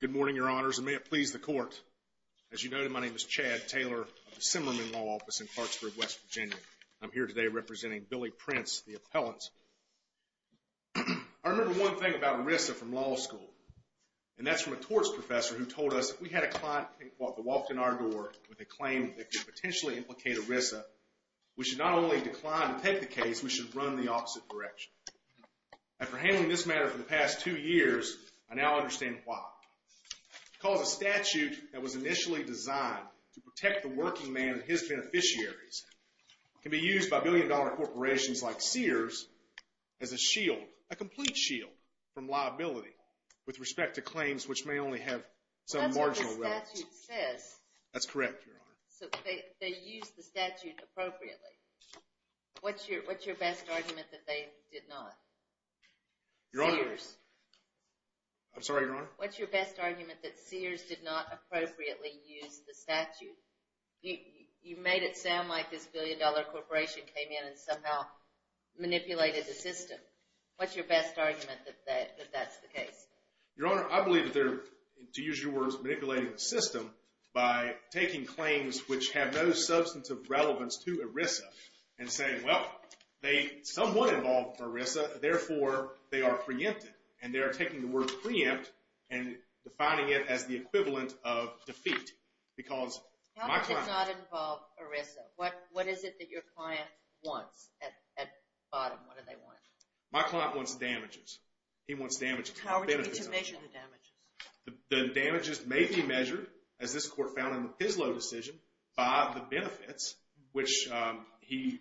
Good morning, Your Honors, and may it please the Court. As you noted, my name is Chad Taylor of the Simmerman Law Office in Clarksburg, West Virginia. I'm here today representing Billy Prince, the appellant. I remember one thing about ERISA from law school, and that's from a torts professor who told us, if we had a client who walked in our door with a claim that could potentially implicate ERISA, we should not only decline to take the case, we should run the opposite direction. After handling this matter for the past two years, I now understand why. Because a statute that was initially designed to protect the working man and his beneficiaries can be used by billion-dollar corporations like Sears as a shield, a complete shield, from liability with respect to claims which may only have some marginal relevance. That's what the statute says. That's correct, Your Honor. So they used the statute appropriately. What's your best argument that they did not? Your Honor. Sears. I'm sorry, Your Honor. What's your best argument that Sears did not appropriately use the statute? You made it sound like this billion-dollar corporation came in and somehow manipulated the system. What's your best argument that that's the case? Your Honor, I believe that they're, to use your words, manipulating the system by taking claims which have no substantive relevance to ERISA and saying, well, they somewhat involve ERISA, therefore they are preempted. And they are taking the word preempt and defining it as the equivalent of defeat because my client— How does it not involve ERISA? What is it that your client wants at bottom? What do they want? My client wants damages. He wants damages. How would you measure the damages? The damages may be measured, as this court found in the PISLO decision, by the benefits, which he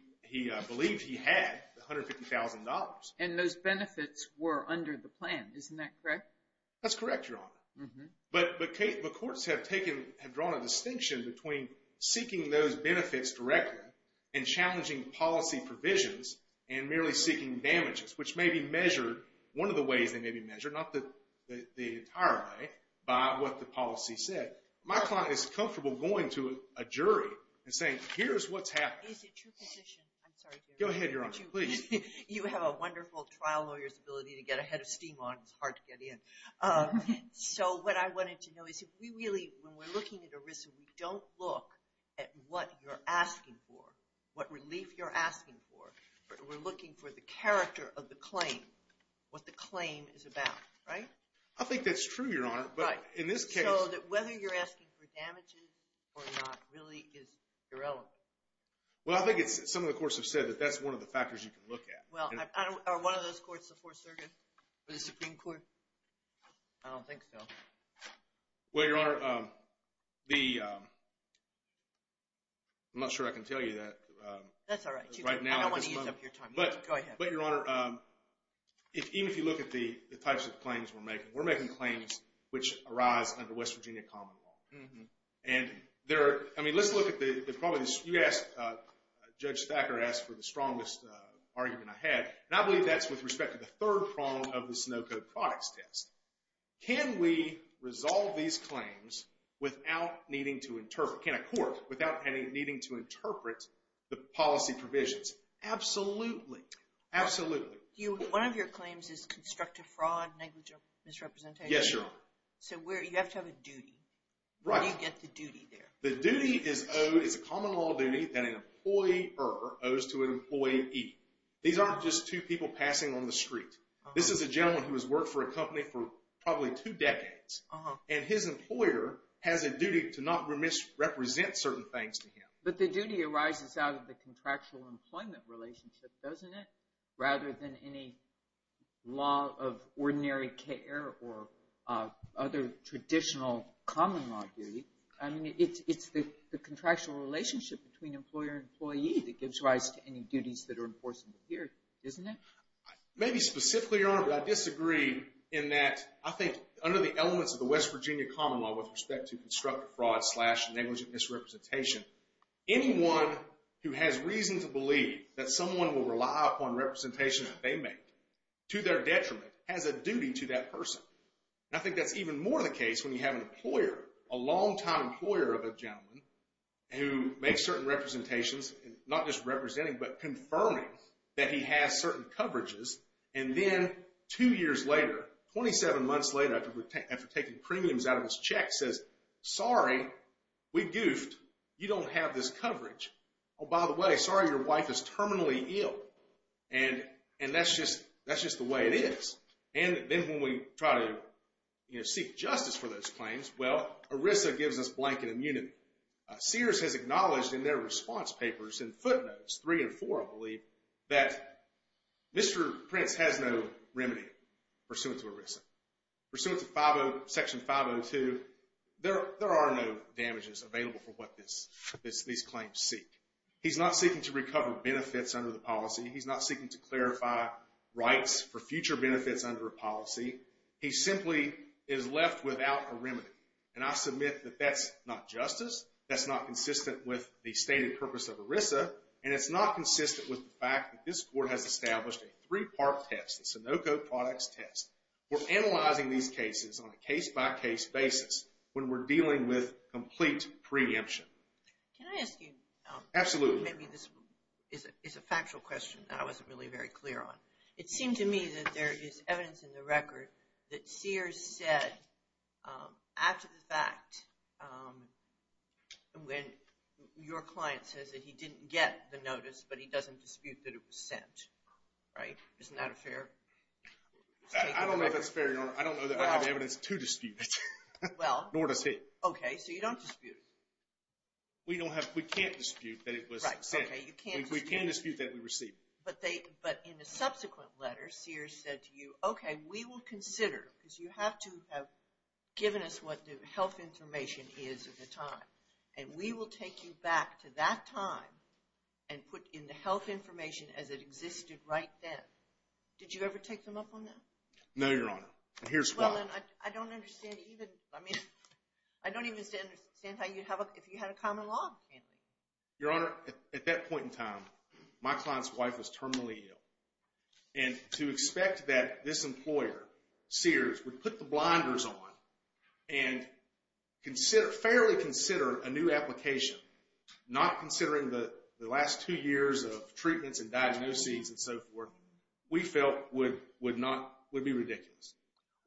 believed he had, $150,000. And those benefits were under the plan. Isn't that correct? That's correct, Your Honor. But the courts have drawn a distinction between seeking those benefits directly and challenging policy provisions and merely seeking damages, which may be measured, one of the ways they may be measured, not the entire way, by what the policy said. My client is comfortable going to a jury and saying, here's what's happening. Is it your position—I'm sorry, Jerry. Go ahead, Your Honor, please. You have a wonderful trial lawyer's ability to get a head of steam on. It's hard to get in. So what I wanted to know is if we really, when we're looking at ERISA, we don't look at what you're asking for, what relief you're asking for. We're looking for the character of the claim, what the claim is about, right? I think that's true, Your Honor. Right. So that whether you're asking for damages or not really is irrelevant. Well, I think some of the courts have said that that's one of the factors you can look at. Are one of those courts the Fourth Circuit or the Supreme Court? I don't think so. Well, Your Honor, the—I'm not sure I can tell you that. That's all right. I don't want to use up your time. Go ahead. But, Your Honor, even if you look at the types of claims we're making, we're making claims which arise under West Virginia common law. And there are—I mean, let's look at the—you asked, Judge Thacker asked for the strongest argument I had, and I believe that's with respect to the third prong of this no-code products test. Can we resolve these claims without needing to interpret—can a court, without needing to interpret the policy provisions? Absolutely. Absolutely. One of your claims is constructive fraud, negligent misrepresentation. Yes, Your Honor. So where—you have to have a duty. Right. Where do you get the duty there? The duty is owed—it's a common law duty that an employer owes to an employee. These aren't just two people passing on the street. This is a gentleman who has worked for a company for probably two decades, and his employer has a duty to not misrepresent certain things to him. But the duty arises out of the contractual employment relationship, doesn't it? Rather than any law of ordinary care or other traditional common law duty. I mean, it's the contractual relationship between employer and employee that gives rise to any duties that are enforced here, isn't it? Maybe specifically, Your Honor, but I disagree in that I think under the elements of the West Virginia Common Law with respect to constructive fraud slash negligent misrepresentation, anyone who has reason to believe that someone will rely upon representation that they make to their detriment has a duty to that person. And I think that's even more the case when you have an employer, a long-time employer of a gentleman, who makes certain representations, not just representing, but confirming that he has certain coverages. And then two years later, 27 months later, after taking premiums out of his check, says, sorry, we goofed, you don't have this coverage. Oh, by the way, sorry, your wife is terminally ill. And that's just the way it is. And then when we try to seek justice for those claims, well, ERISA gives us blanket immunity. Sears has acknowledged in their response papers in footnotes three and four, I believe, that Mr. Prince has no remedy pursuant to ERISA. Pursuant to Section 502, there are no damages available for what these claims seek. He's not seeking to recover benefits under the policy. He's not seeking to clarify rights for future benefits under a policy. He simply is left without a remedy. And I submit that that's not justice. That's not consistent with the stated purpose of ERISA. And it's not consistent with the fact that this court has established a three-part test, the Sunoco Products Test. We're analyzing these cases on a case-by-case basis when we're dealing with complete preemption. Can I ask you? Absolutely. Maybe this is a factual question that I wasn't really very clear on. It seemed to me that there is evidence in the record that Sears said, after the fact, when your client says that he didn't get the notice but he doesn't dispute that it was sent, right? Isn't that a fair statement? I don't know if that's fair, Your Honor. I don't know that I have evidence to dispute it. Well. Nor does he. Okay. So you don't dispute it. We can't dispute that it was sent. Right. Okay. You can't dispute it. But in the subsequent letter, Sears said to you, okay, we will consider, because you have to have given us what the health information is at the time, and we will take you back to that time and put in the health information as it existed right then. Did you ever take them up on that? No, Your Honor. And here's why. Well, then, I don't understand even, I mean, I don't even understand how you'd have, if you had a common law handling. Your Honor, at that point in time, my client's wife was terminally ill. And to expect that this employer, Sears, would put the blinders on and fairly consider a new application, not considering the last two years of treatments and diagnoses and so forth, we felt would be ridiculous.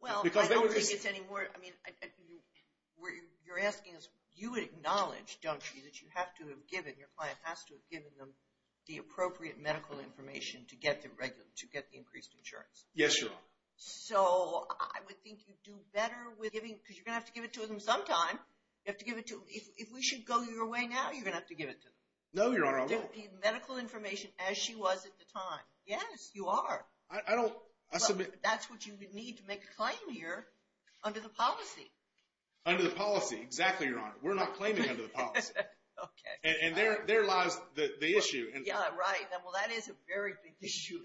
Well, I don't think it's any more, I mean, you're asking us, you acknowledge, don't you, that you have to have given, your client has to have given them the appropriate medical information to get the increased insurance. Yes, Your Honor. So I would think you'd do better with giving, because you're going to have to give it to them sometime. You have to give it to them. If we should go your way now, you're going to have to give it to them. No, Your Honor, I won't. The medical information as she was at the time. Yes, you are. I don't, I submit. That's what you need to make a claim here under the policy. Under the policy, exactly, Your Honor. We're not claiming under the policy. Okay. And there lies the issue. Yeah, right. Well, that is a very big issue.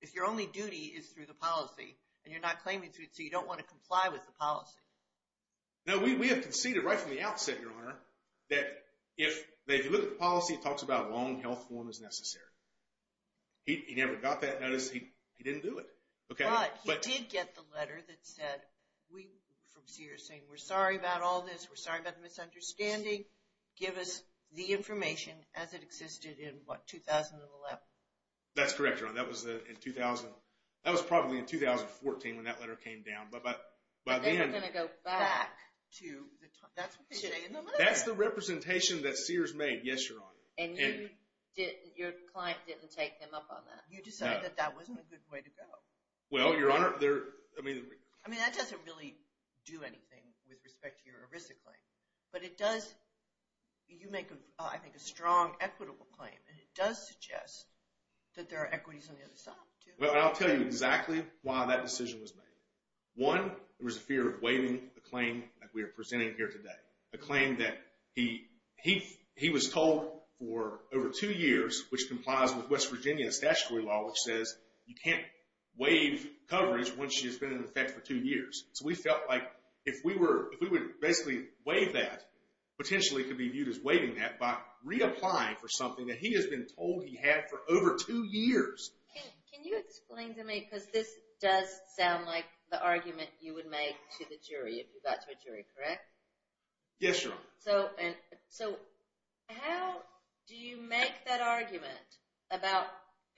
If your only duty is through the policy and you're not claiming through it, so you don't want to comply with the policy. No, we have conceded right from the outset, Your Honor, that if you look at the policy, it talks about long health form as necessary. He never got that notice. He didn't do it. But he did get the letter that said, from Sears, saying, we're sorry about all this. We're sorry about the misunderstanding. Give us the information as it existed in, what, 2011? That's correct, Your Honor. That was probably in 2014 when that letter came down. But they were going to go back to the time. That's what they say in the letter. That's the representation that Sears made. Yes, Your Honor. And your client didn't take them up on that. You decided that that wasn't a good way to go. Well, Your Honor, there, I mean. I mean, that doesn't really do anything with respect to your ERISA claim. But it does, you make, I think, a strong equitable claim. And it does suggest that there are equities on the other side, too. Well, I'll tell you exactly why that decision was made. One, there was a fear of waiving the claim that we are presenting here today, a claim that he was told for over two years, which complies with West Virginia's statutory law, which says you can't waive coverage once she has been in effect for two years. So we felt like if we would basically waive that, potentially it could be viewed as waiving that by reapplying for something that he has been told he had for over two years. Can you explain to me, because this does sound like the argument you would make to the jury if you got to a jury, correct? Yes, Your Honor. So how do you make that argument about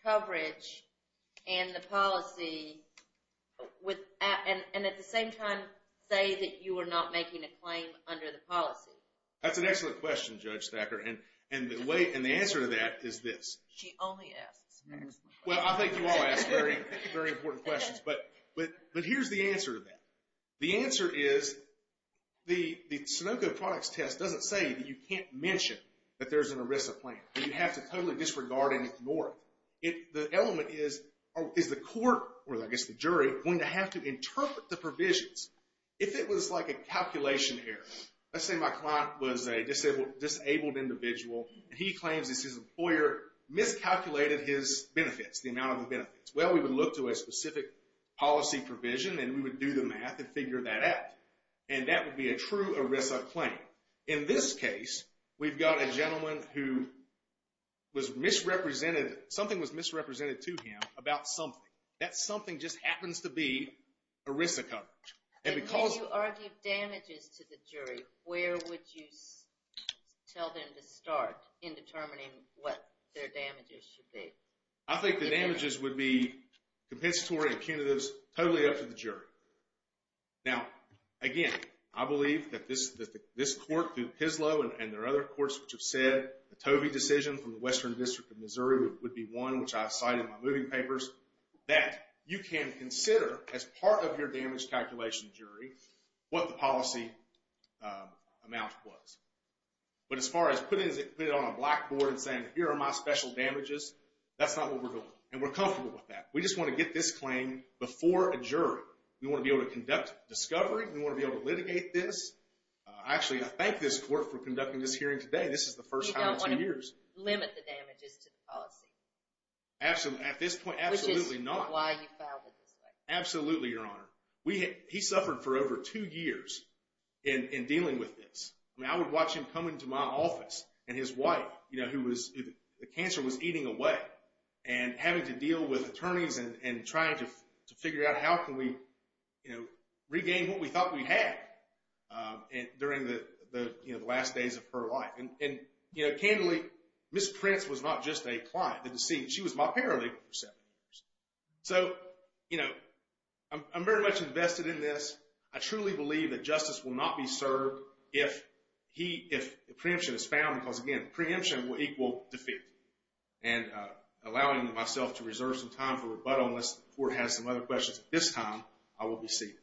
coverage and the policy and at the same time say that you are not making a claim under the policy? That's an excellent question, Judge Thacker. And the answer to that is this. She only asks excellent questions. Well, I think you all ask very important questions. But here's the answer to that. The answer is the Sunoco products test doesn't say that you can't mention that there's an ERISA plan. You have to totally disregard and ignore it. The element is, is the court, or I guess the jury, going to have to interpret the provisions? If it was like a calculation error, let's say my client was a disabled individual and he claims that his employer miscalculated his benefits, the amount of the benefits. Well, we would look to a specific policy provision and we would do the math and figure that out. And that would be a true ERISA claim. In this case, we've got a gentleman who was misrepresented. Something was misrepresented to him about something. That something just happens to be ERISA coverage. And if you argue damages to the jury, where would you tell them to start in determining what their damages should be? I think the damages would be compensatory and punitives totally up to the jury. Now, again, I believe that this court through PISLO and there are other courts which have said the Tovey decision from the Western District of Missouri would be one, which I cite in my moving papers, that you can consider as part of your damage calculation jury what the policy amount was. But as far as putting it on a blackboard and saying, here are my special damages, that's not what we're doing. And we're comfortable with that. We just want to get this claim before a jury. We want to be able to conduct discovery. We want to be able to litigate this. Actually, I thank this court for conducting this hearing today. This is the first time in two years. You don't want to limit the damages to the policy. Absolutely. At this point, absolutely not. Which is why you filed it this way. Absolutely, Your Honor. He suffered for over two years in dealing with this. I mean, I would watch him come into my office and his wife, who the cancer was eating away, and having to deal with attorneys and trying to figure out how can we regain what we thought we had during the last days of her life. And, you know, candidly, Ms. Prince was not just a client. She was my paralegal for seven years. So, you know, I'm very much invested in this. I truly believe that justice will not be served if preemption is found. Because, again, preemption will equal defeat. And allowing myself to reserve some time for rebuttal, unless the court has some other questions at this time, I will be seated.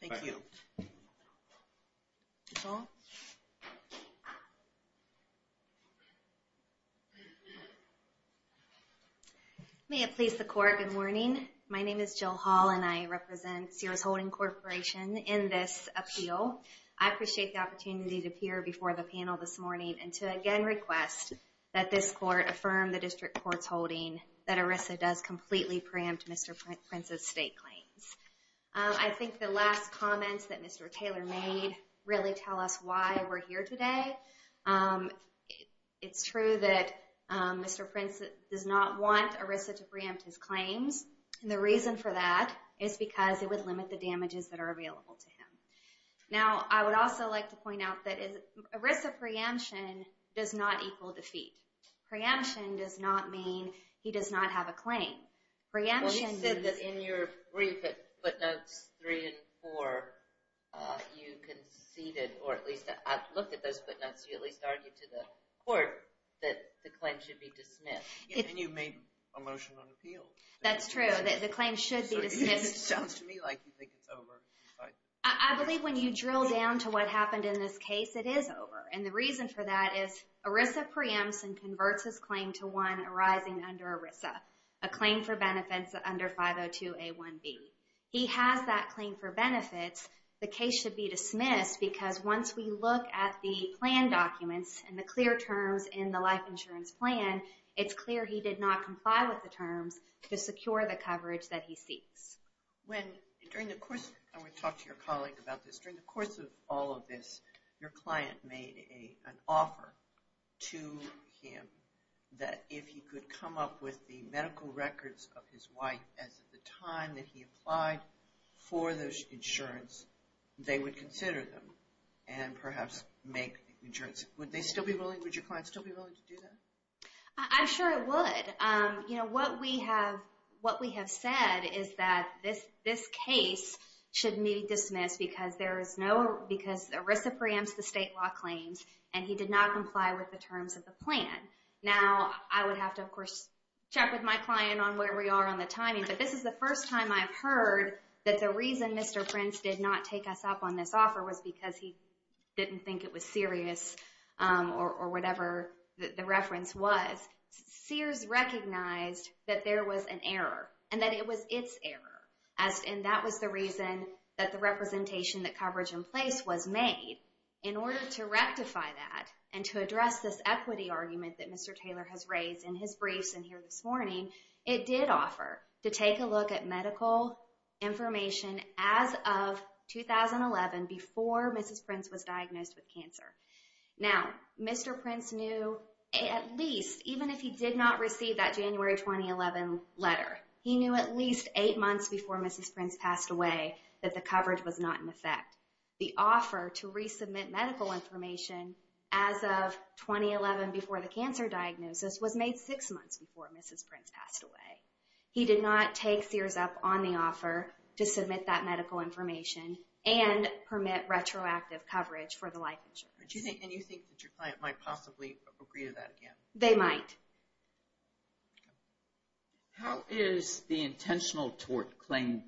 Thank you. Thank you. Ms. Hall. May it please the court, good morning. My name is Jill Hall, and I represent Sears Holding Corporation in this appeal. I appreciate the opportunity to appear before the panel this morning and to again request that this court affirm the district court's holding that ERISA does completely preempt Mr. Prince's state claims. I think the last comments that Mr. Taylor made really tell us why we're here today. It's true that Mr. Prince does not want ERISA to preempt his claims. And the reason for that is because it would limit the damages that are available to him. Now, I would also like to point out that ERISA preemption does not equal defeat. Preemption does not mean he does not have a claim. Well, you said that in your brief at footnotes three and four, you conceded, or at least I looked at those footnotes, you at least argued to the court that the claim should be dismissed. And you made a motion on appeal. That's true, that the claim should be dismissed. It sounds to me like you think it's over. I believe when you drill down to what happened in this case, it is over. And the reason for that is ERISA preempts and converts his claim to one arising under ERISA, a claim for benefits under 502A1B. He has that claim for benefits. The case should be dismissed because once we look at the plan documents and the clear terms in the life insurance plan, it's clear he did not comply with the terms to secure the coverage that he seeks. I want to talk to your colleague about this. During the course of all of this, your client made an offer to him that if he could come up with the medical records of his wife as of the time that he applied for the insurance, they would consider them and perhaps make insurance. Would your client still be willing to do that? I'm sure it would. What we have said is that this case should be dismissed because ERISA preempts the state law claims, and he did not comply with the terms of the plan. Now, I would have to, of course, check with my client on where we are on the timing, but this is the first time I've heard that the reason Mr. Prince did not take us up on this offer was because he didn't think it was serious or whatever the reference was. Sears recognized that there was an error and that it was its error, and that was the reason that the representation that coverage in place was made. In order to rectify that and to address this equity argument that Mr. Taylor has raised in his briefs in here this morning, it did offer to take a look at medical information as of 2011 before Mrs. Prince was diagnosed with cancer. Now, Mr. Prince knew at least, even if he did not receive that January 2011 letter, he knew at least eight months before Mrs. Prince passed away that the coverage was not in effect. The offer to resubmit medical information as of 2011 before the cancer diagnosis was made six months before Mrs. Prince passed away. He did not take Sears up on the offer to submit that medical information and permit retroactive coverage for the life insurance. And you think that your client might possibly agree to that again? They might. How is the intentional tort claim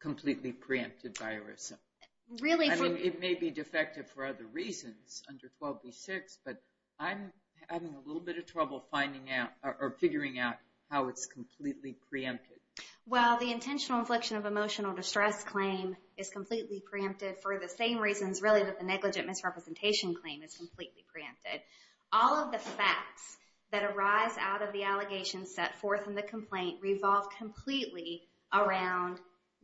completely preempted by ERISA? I mean, it may be defective for other reasons under 12v6, but I'm having a little bit of trouble figuring out how it's completely preempted. Well, the intentional infliction of emotional distress claim is completely preempted for the same reasons, really, that the negligent misrepresentation claim is completely preempted. All of the facts that arise out of the allegations set forth in the complaint revolve completely around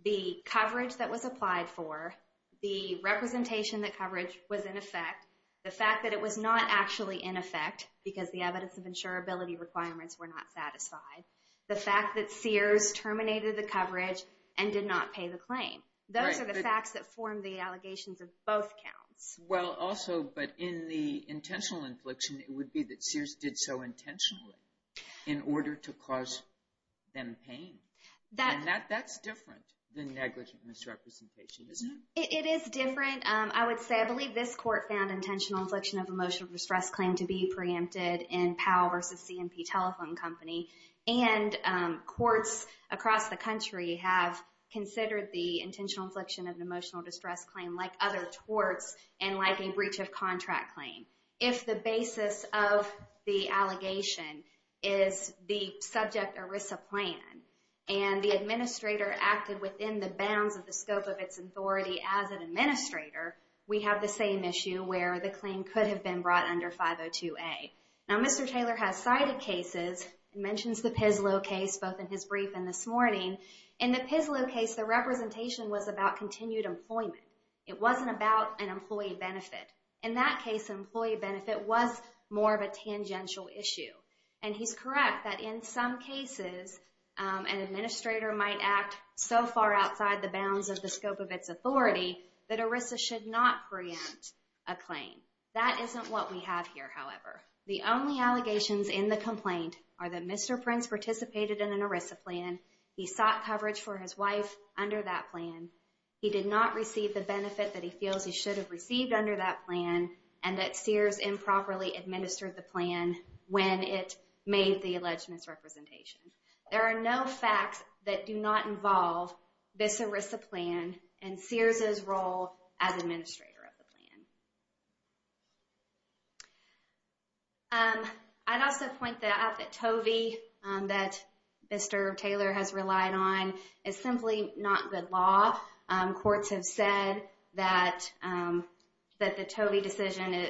the coverage that was applied for, the representation that coverage was in effect, the fact that it was not actually in effect because the evidence of insurability requirements were not satisfied, the fact that Sears terminated the coverage and did not pay the claim. Those are the facts that form the allegations of both counts. Well, also, but in the intentional infliction, it would be that Sears did so intentionally in order to cause them pain. And that's different than negligent misrepresentation, isn't it? It is different. I would say I believe this court found intentional infliction of emotional distress claim to be preempted in Powell v. C&P Telephone Company. And courts across the country have considered the intentional infliction of an emotional distress claim, like other torts and like a breach of contract claim. If the basis of the allegation is the subject ERISA plan and the administrator acted within the bounds of the scope of its authority as an administrator, we have the same issue where the claim could have been brought under 502A. Now, Mr. Taylor has cited cases, mentions the PISLO case both in his brief and this morning. In the PISLO case, the representation was about continued employment. It wasn't about an employee benefit. In that case, employee benefit was more of a tangential issue. And he's correct that in some cases, an administrator might act so far outside the bounds of the scope of its authority that ERISA should not preempt a claim. That isn't what we have here, however. The only allegations in the complaint are that Mr. Prince participated in an ERISA plan, he sought coverage for his wife under that plan, he did not receive the benefit that he feels he should have received under that plan, and that Sears improperly administered the plan when it made the alleged misrepresentation. There are no facts that do not involve this ERISA plan and Sears' role as administrator of the plan. I'd also point out that Tovey that Mr. Taylor has relied on is simply not good law. Courts have said that the Tovey decision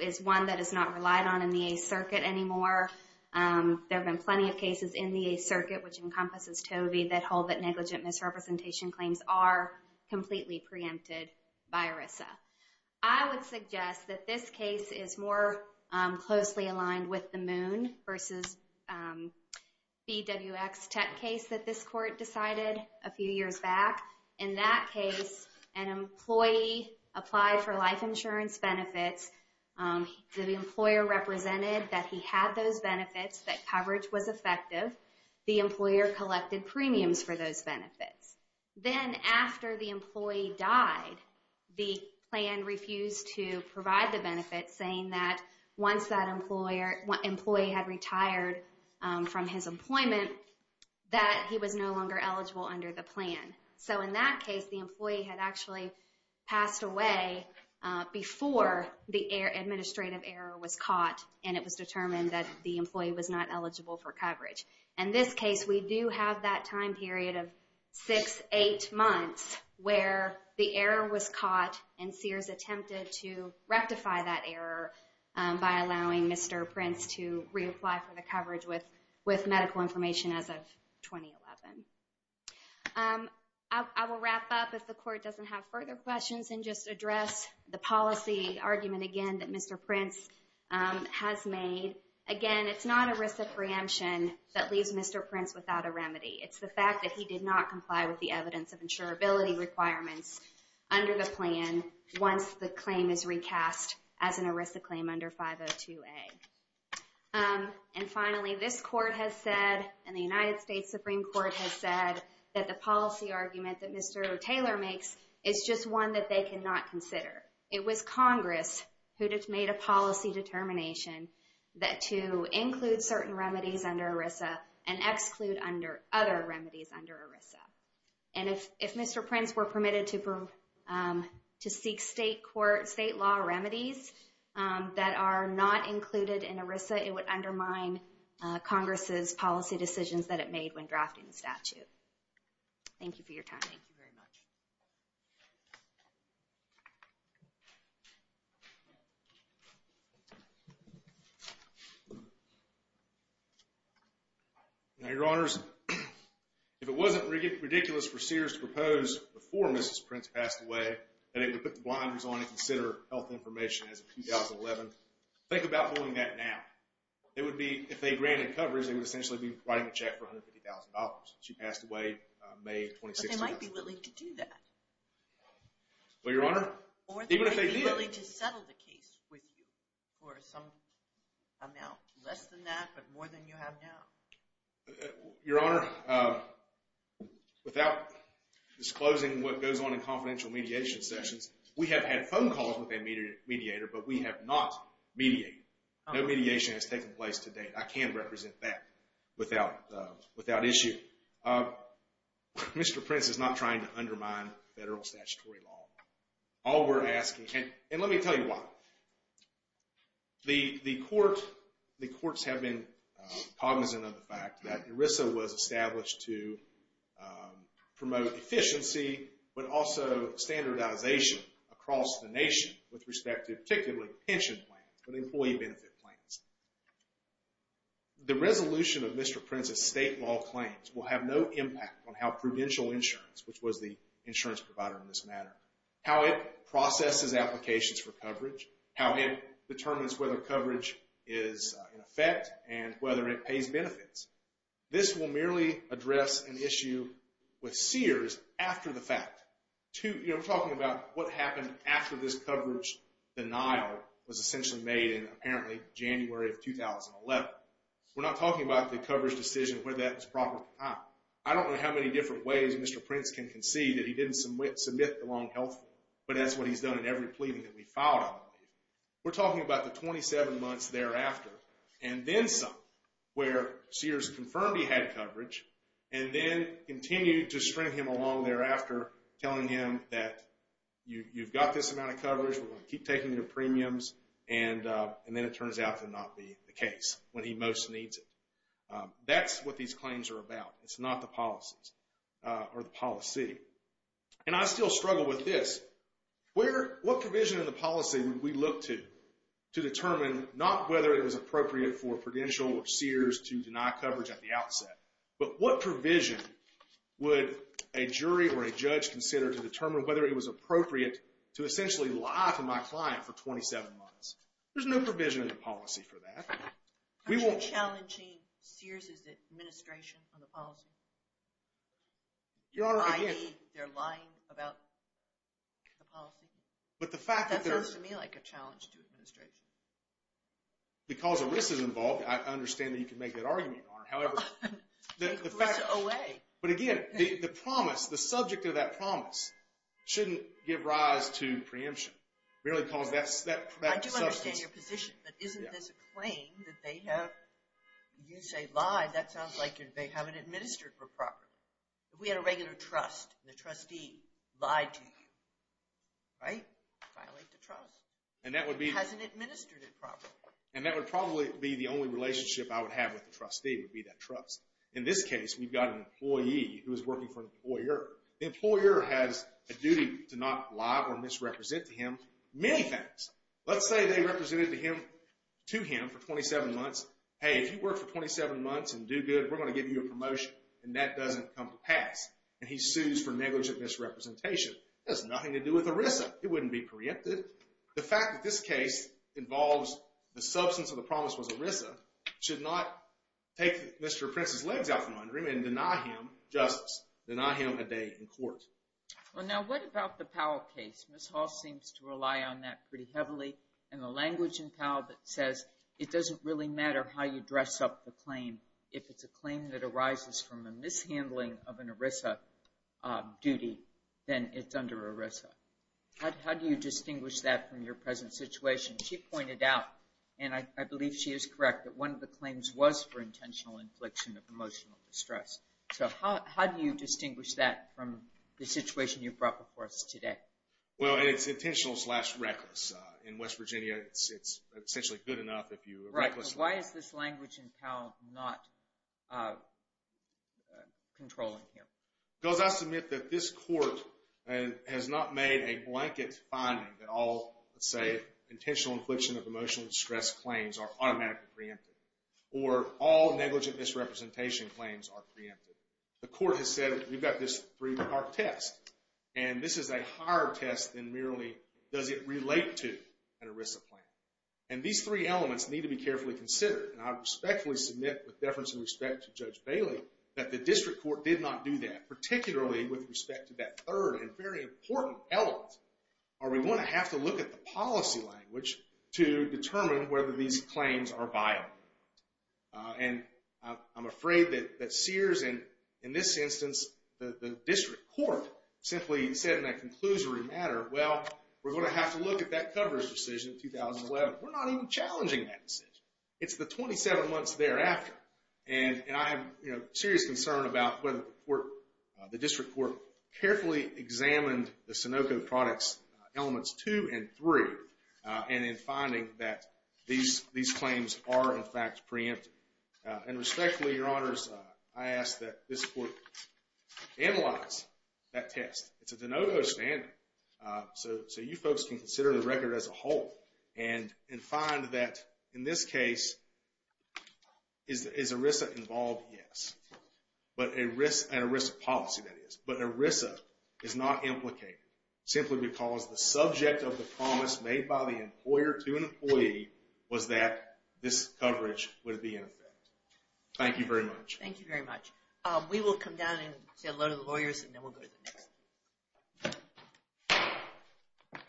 is one that is not relied on in the Eighth Circuit anymore. There have been plenty of cases in the Eighth Circuit which encompasses Tovey that hold that negligent misrepresentation claims are completely preempted by ERISA. I would suggest that this case is more closely aligned with the Moon versus BWX tech case that this court decided a few years back. In that case, an employee applied for life insurance benefits. The employer represented that he had those benefits, that coverage was effective. The employer collected premiums for those benefits. Then after the employee died, the plan refused to provide the benefits, saying that once that employee had retired from his employment, that he was no longer eligible under the plan. So in that case, the employee had actually passed away before the administrative error was caught, and it was determined that the employee was not eligible for coverage. In this case, we do have that time period of six, eight months where the error was caught and Sears attempted to rectify that error by allowing Mr. Prince to reapply for the coverage with medical information as of 2011. I will wrap up if the court doesn't have further questions and just address the policy argument again that Mr. Prince has made. Again, it's not ERISA preemption that leaves Mr. Prince without a remedy. It's the fact that he did not comply with the evidence of insurability requirements under the plan once the claim is recast as an ERISA claim under 502A. And finally, this court has said, and the United States Supreme Court has said, that the policy argument that Mr. Taylor makes is just one that they cannot consider. It was Congress who made a policy determination to include certain remedies under ERISA and exclude other remedies under ERISA. And if Mr. Prince were permitted to seek state law remedies that are not included in ERISA, it would undermine Congress's policy decisions that it made when drafting the statute. Thank you for your time. Thank you very much. Now, Your Honors, if it wasn't ridiculous for Sears to propose before Mrs. Prince passed away that it would put the blinders on and consider health information as of 2011, think about doing that now. If they granted coverage, they would essentially be writing a check for $150,000. She passed away May 26th. But they might be willing to do that. Well, Your Honor, even if they did. Or they might be willing to settle the case with you for some amount less than that, but more than you have now. Your Honor, without disclosing what goes on in confidential mediation sessions, we have had phone calls with a mediator, but we have not mediated. No mediation has taken place to date. I can represent that without issue. Mr. Prince is not trying to undermine federal statutory law. All we're asking, and let me tell you why. The courts have been cognizant of the fact that ERISA was established to promote efficiency, but also standardization across the nation with respect to particularly pension plans and employee benefit plans. The resolution of Mr. Prince's state law claims will have no impact on how prudential insurance, which was the insurance provider in this matter, how it processes applications for coverage, how it determines whether coverage is in effect, and whether it pays benefits. This will merely address an issue with Sears after the fact. We're talking about what happened after this coverage denial was essentially made in apparently January of 2011. We're not talking about the coverage decision where that was properly filed. I don't know how many different ways Mr. Prince can concede that he didn't submit the long health form, but that's what he's done in every pleading that we filed, I believe. We're talking about the 27 months thereafter. And then some, where Sears confirmed he had coverage, and then continued to string him along thereafter, telling him that you've got this amount of coverage, we're going to keep taking your premiums, and then it turns out to not be the case when he most needs it. That's what these claims are about. It's not the policies or the policy. And I still struggle with this. What provision in the policy would we look to, to determine not whether it was appropriate for Prudential or Sears to deny coverage at the outset, but what provision would a jury or a judge consider to determine whether it was appropriate to essentially lie to my client for 27 months? There's no provision in the policy for that. Aren't you challenging Sears' administration on the policy? Your Honor, again... I.e., they're lying about the policy? But the fact that they're... That sounds to me like a challenge to administration. Because ERISA's involved, I understand that you can make that argument, Your Honor. However, the fact... Take ERISA away. But again, the promise, the subject of that promise shouldn't give rise to preemption. Really, because that substance... I do understand your position, but isn't this a claim that they have... If we had a regular trust, and the trustee lied to you, right? Violate the trust. And that would be... It hasn't administered it properly. And that would probably be the only relationship I would have with the trustee, would be that trust. In this case, we've got an employee who is working for an employer. The employer has a duty to not lie or misrepresent to him many things. Let's say they represented to him for 27 months, Hey, if you work for 27 months and do good, we're going to give you a promotion. And that doesn't come to pass. And he sues for negligent misrepresentation. That has nothing to do with ERISA. It wouldn't be preempted. The fact that this case involves the substance of the promise was ERISA, should not take Mr. Prince's legs out from under him and deny him justice. Deny him a day in court. Well, now, what about the Powell case? Ms. Hall seems to rely on that pretty heavily. And the language in Powell that says it doesn't really matter how you dress up the claim. If it's a claim that arises from a mishandling of an ERISA duty, then it's under ERISA. How do you distinguish that from your present situation? She pointed out, and I believe she is correct, that one of the claims was for intentional infliction of emotional distress. So how do you distinguish that from the situation you've brought before us today? Well, it's intentional-slash-reckless. In West Virginia, it's essentially good enough if you recklessly. Why is this language in Powell not controlling him? Because I submit that this court has not made a blanket finding that all, let's say, intentional infliction of emotional distress claims are automatically preempted. Or all negligent misrepresentation claims are preempted. The court has said, we've got this three-part test. And this is a higher test than merely, does it relate to an ERISA plan? And these three elements need to be carefully considered. And I respectfully submit, with deference and respect to Judge Bailey, that the district court did not do that. Particularly with respect to that third and very important element. Are we going to have to look at the policy language to determine whether these claims are viable? And I'm afraid that Sears, in this instance, the district court, simply said in a conclusory matter, well, we're going to have to look at that coverage decision in 2011. We're not even challenging that decision. It's the 27 months thereafter. And I have serious concern about whether the district court carefully examined the Sunoco products elements two and three. And in finding that these claims are in fact preempted. And respectfully, your honors, I ask that this court analyze that test. It's a de novo standing. So you folks can consider the record as a whole. And find that, in this case, is ERISA involved? Yes. But an ERISA policy, that is. But an ERISA is not implicated. Simply because the subject of the promise made by the employer to an employee was that this coverage would be in effect. Thank you very much. Thank you very much. We will come down and say hello to the lawyers, and then we'll go to the next.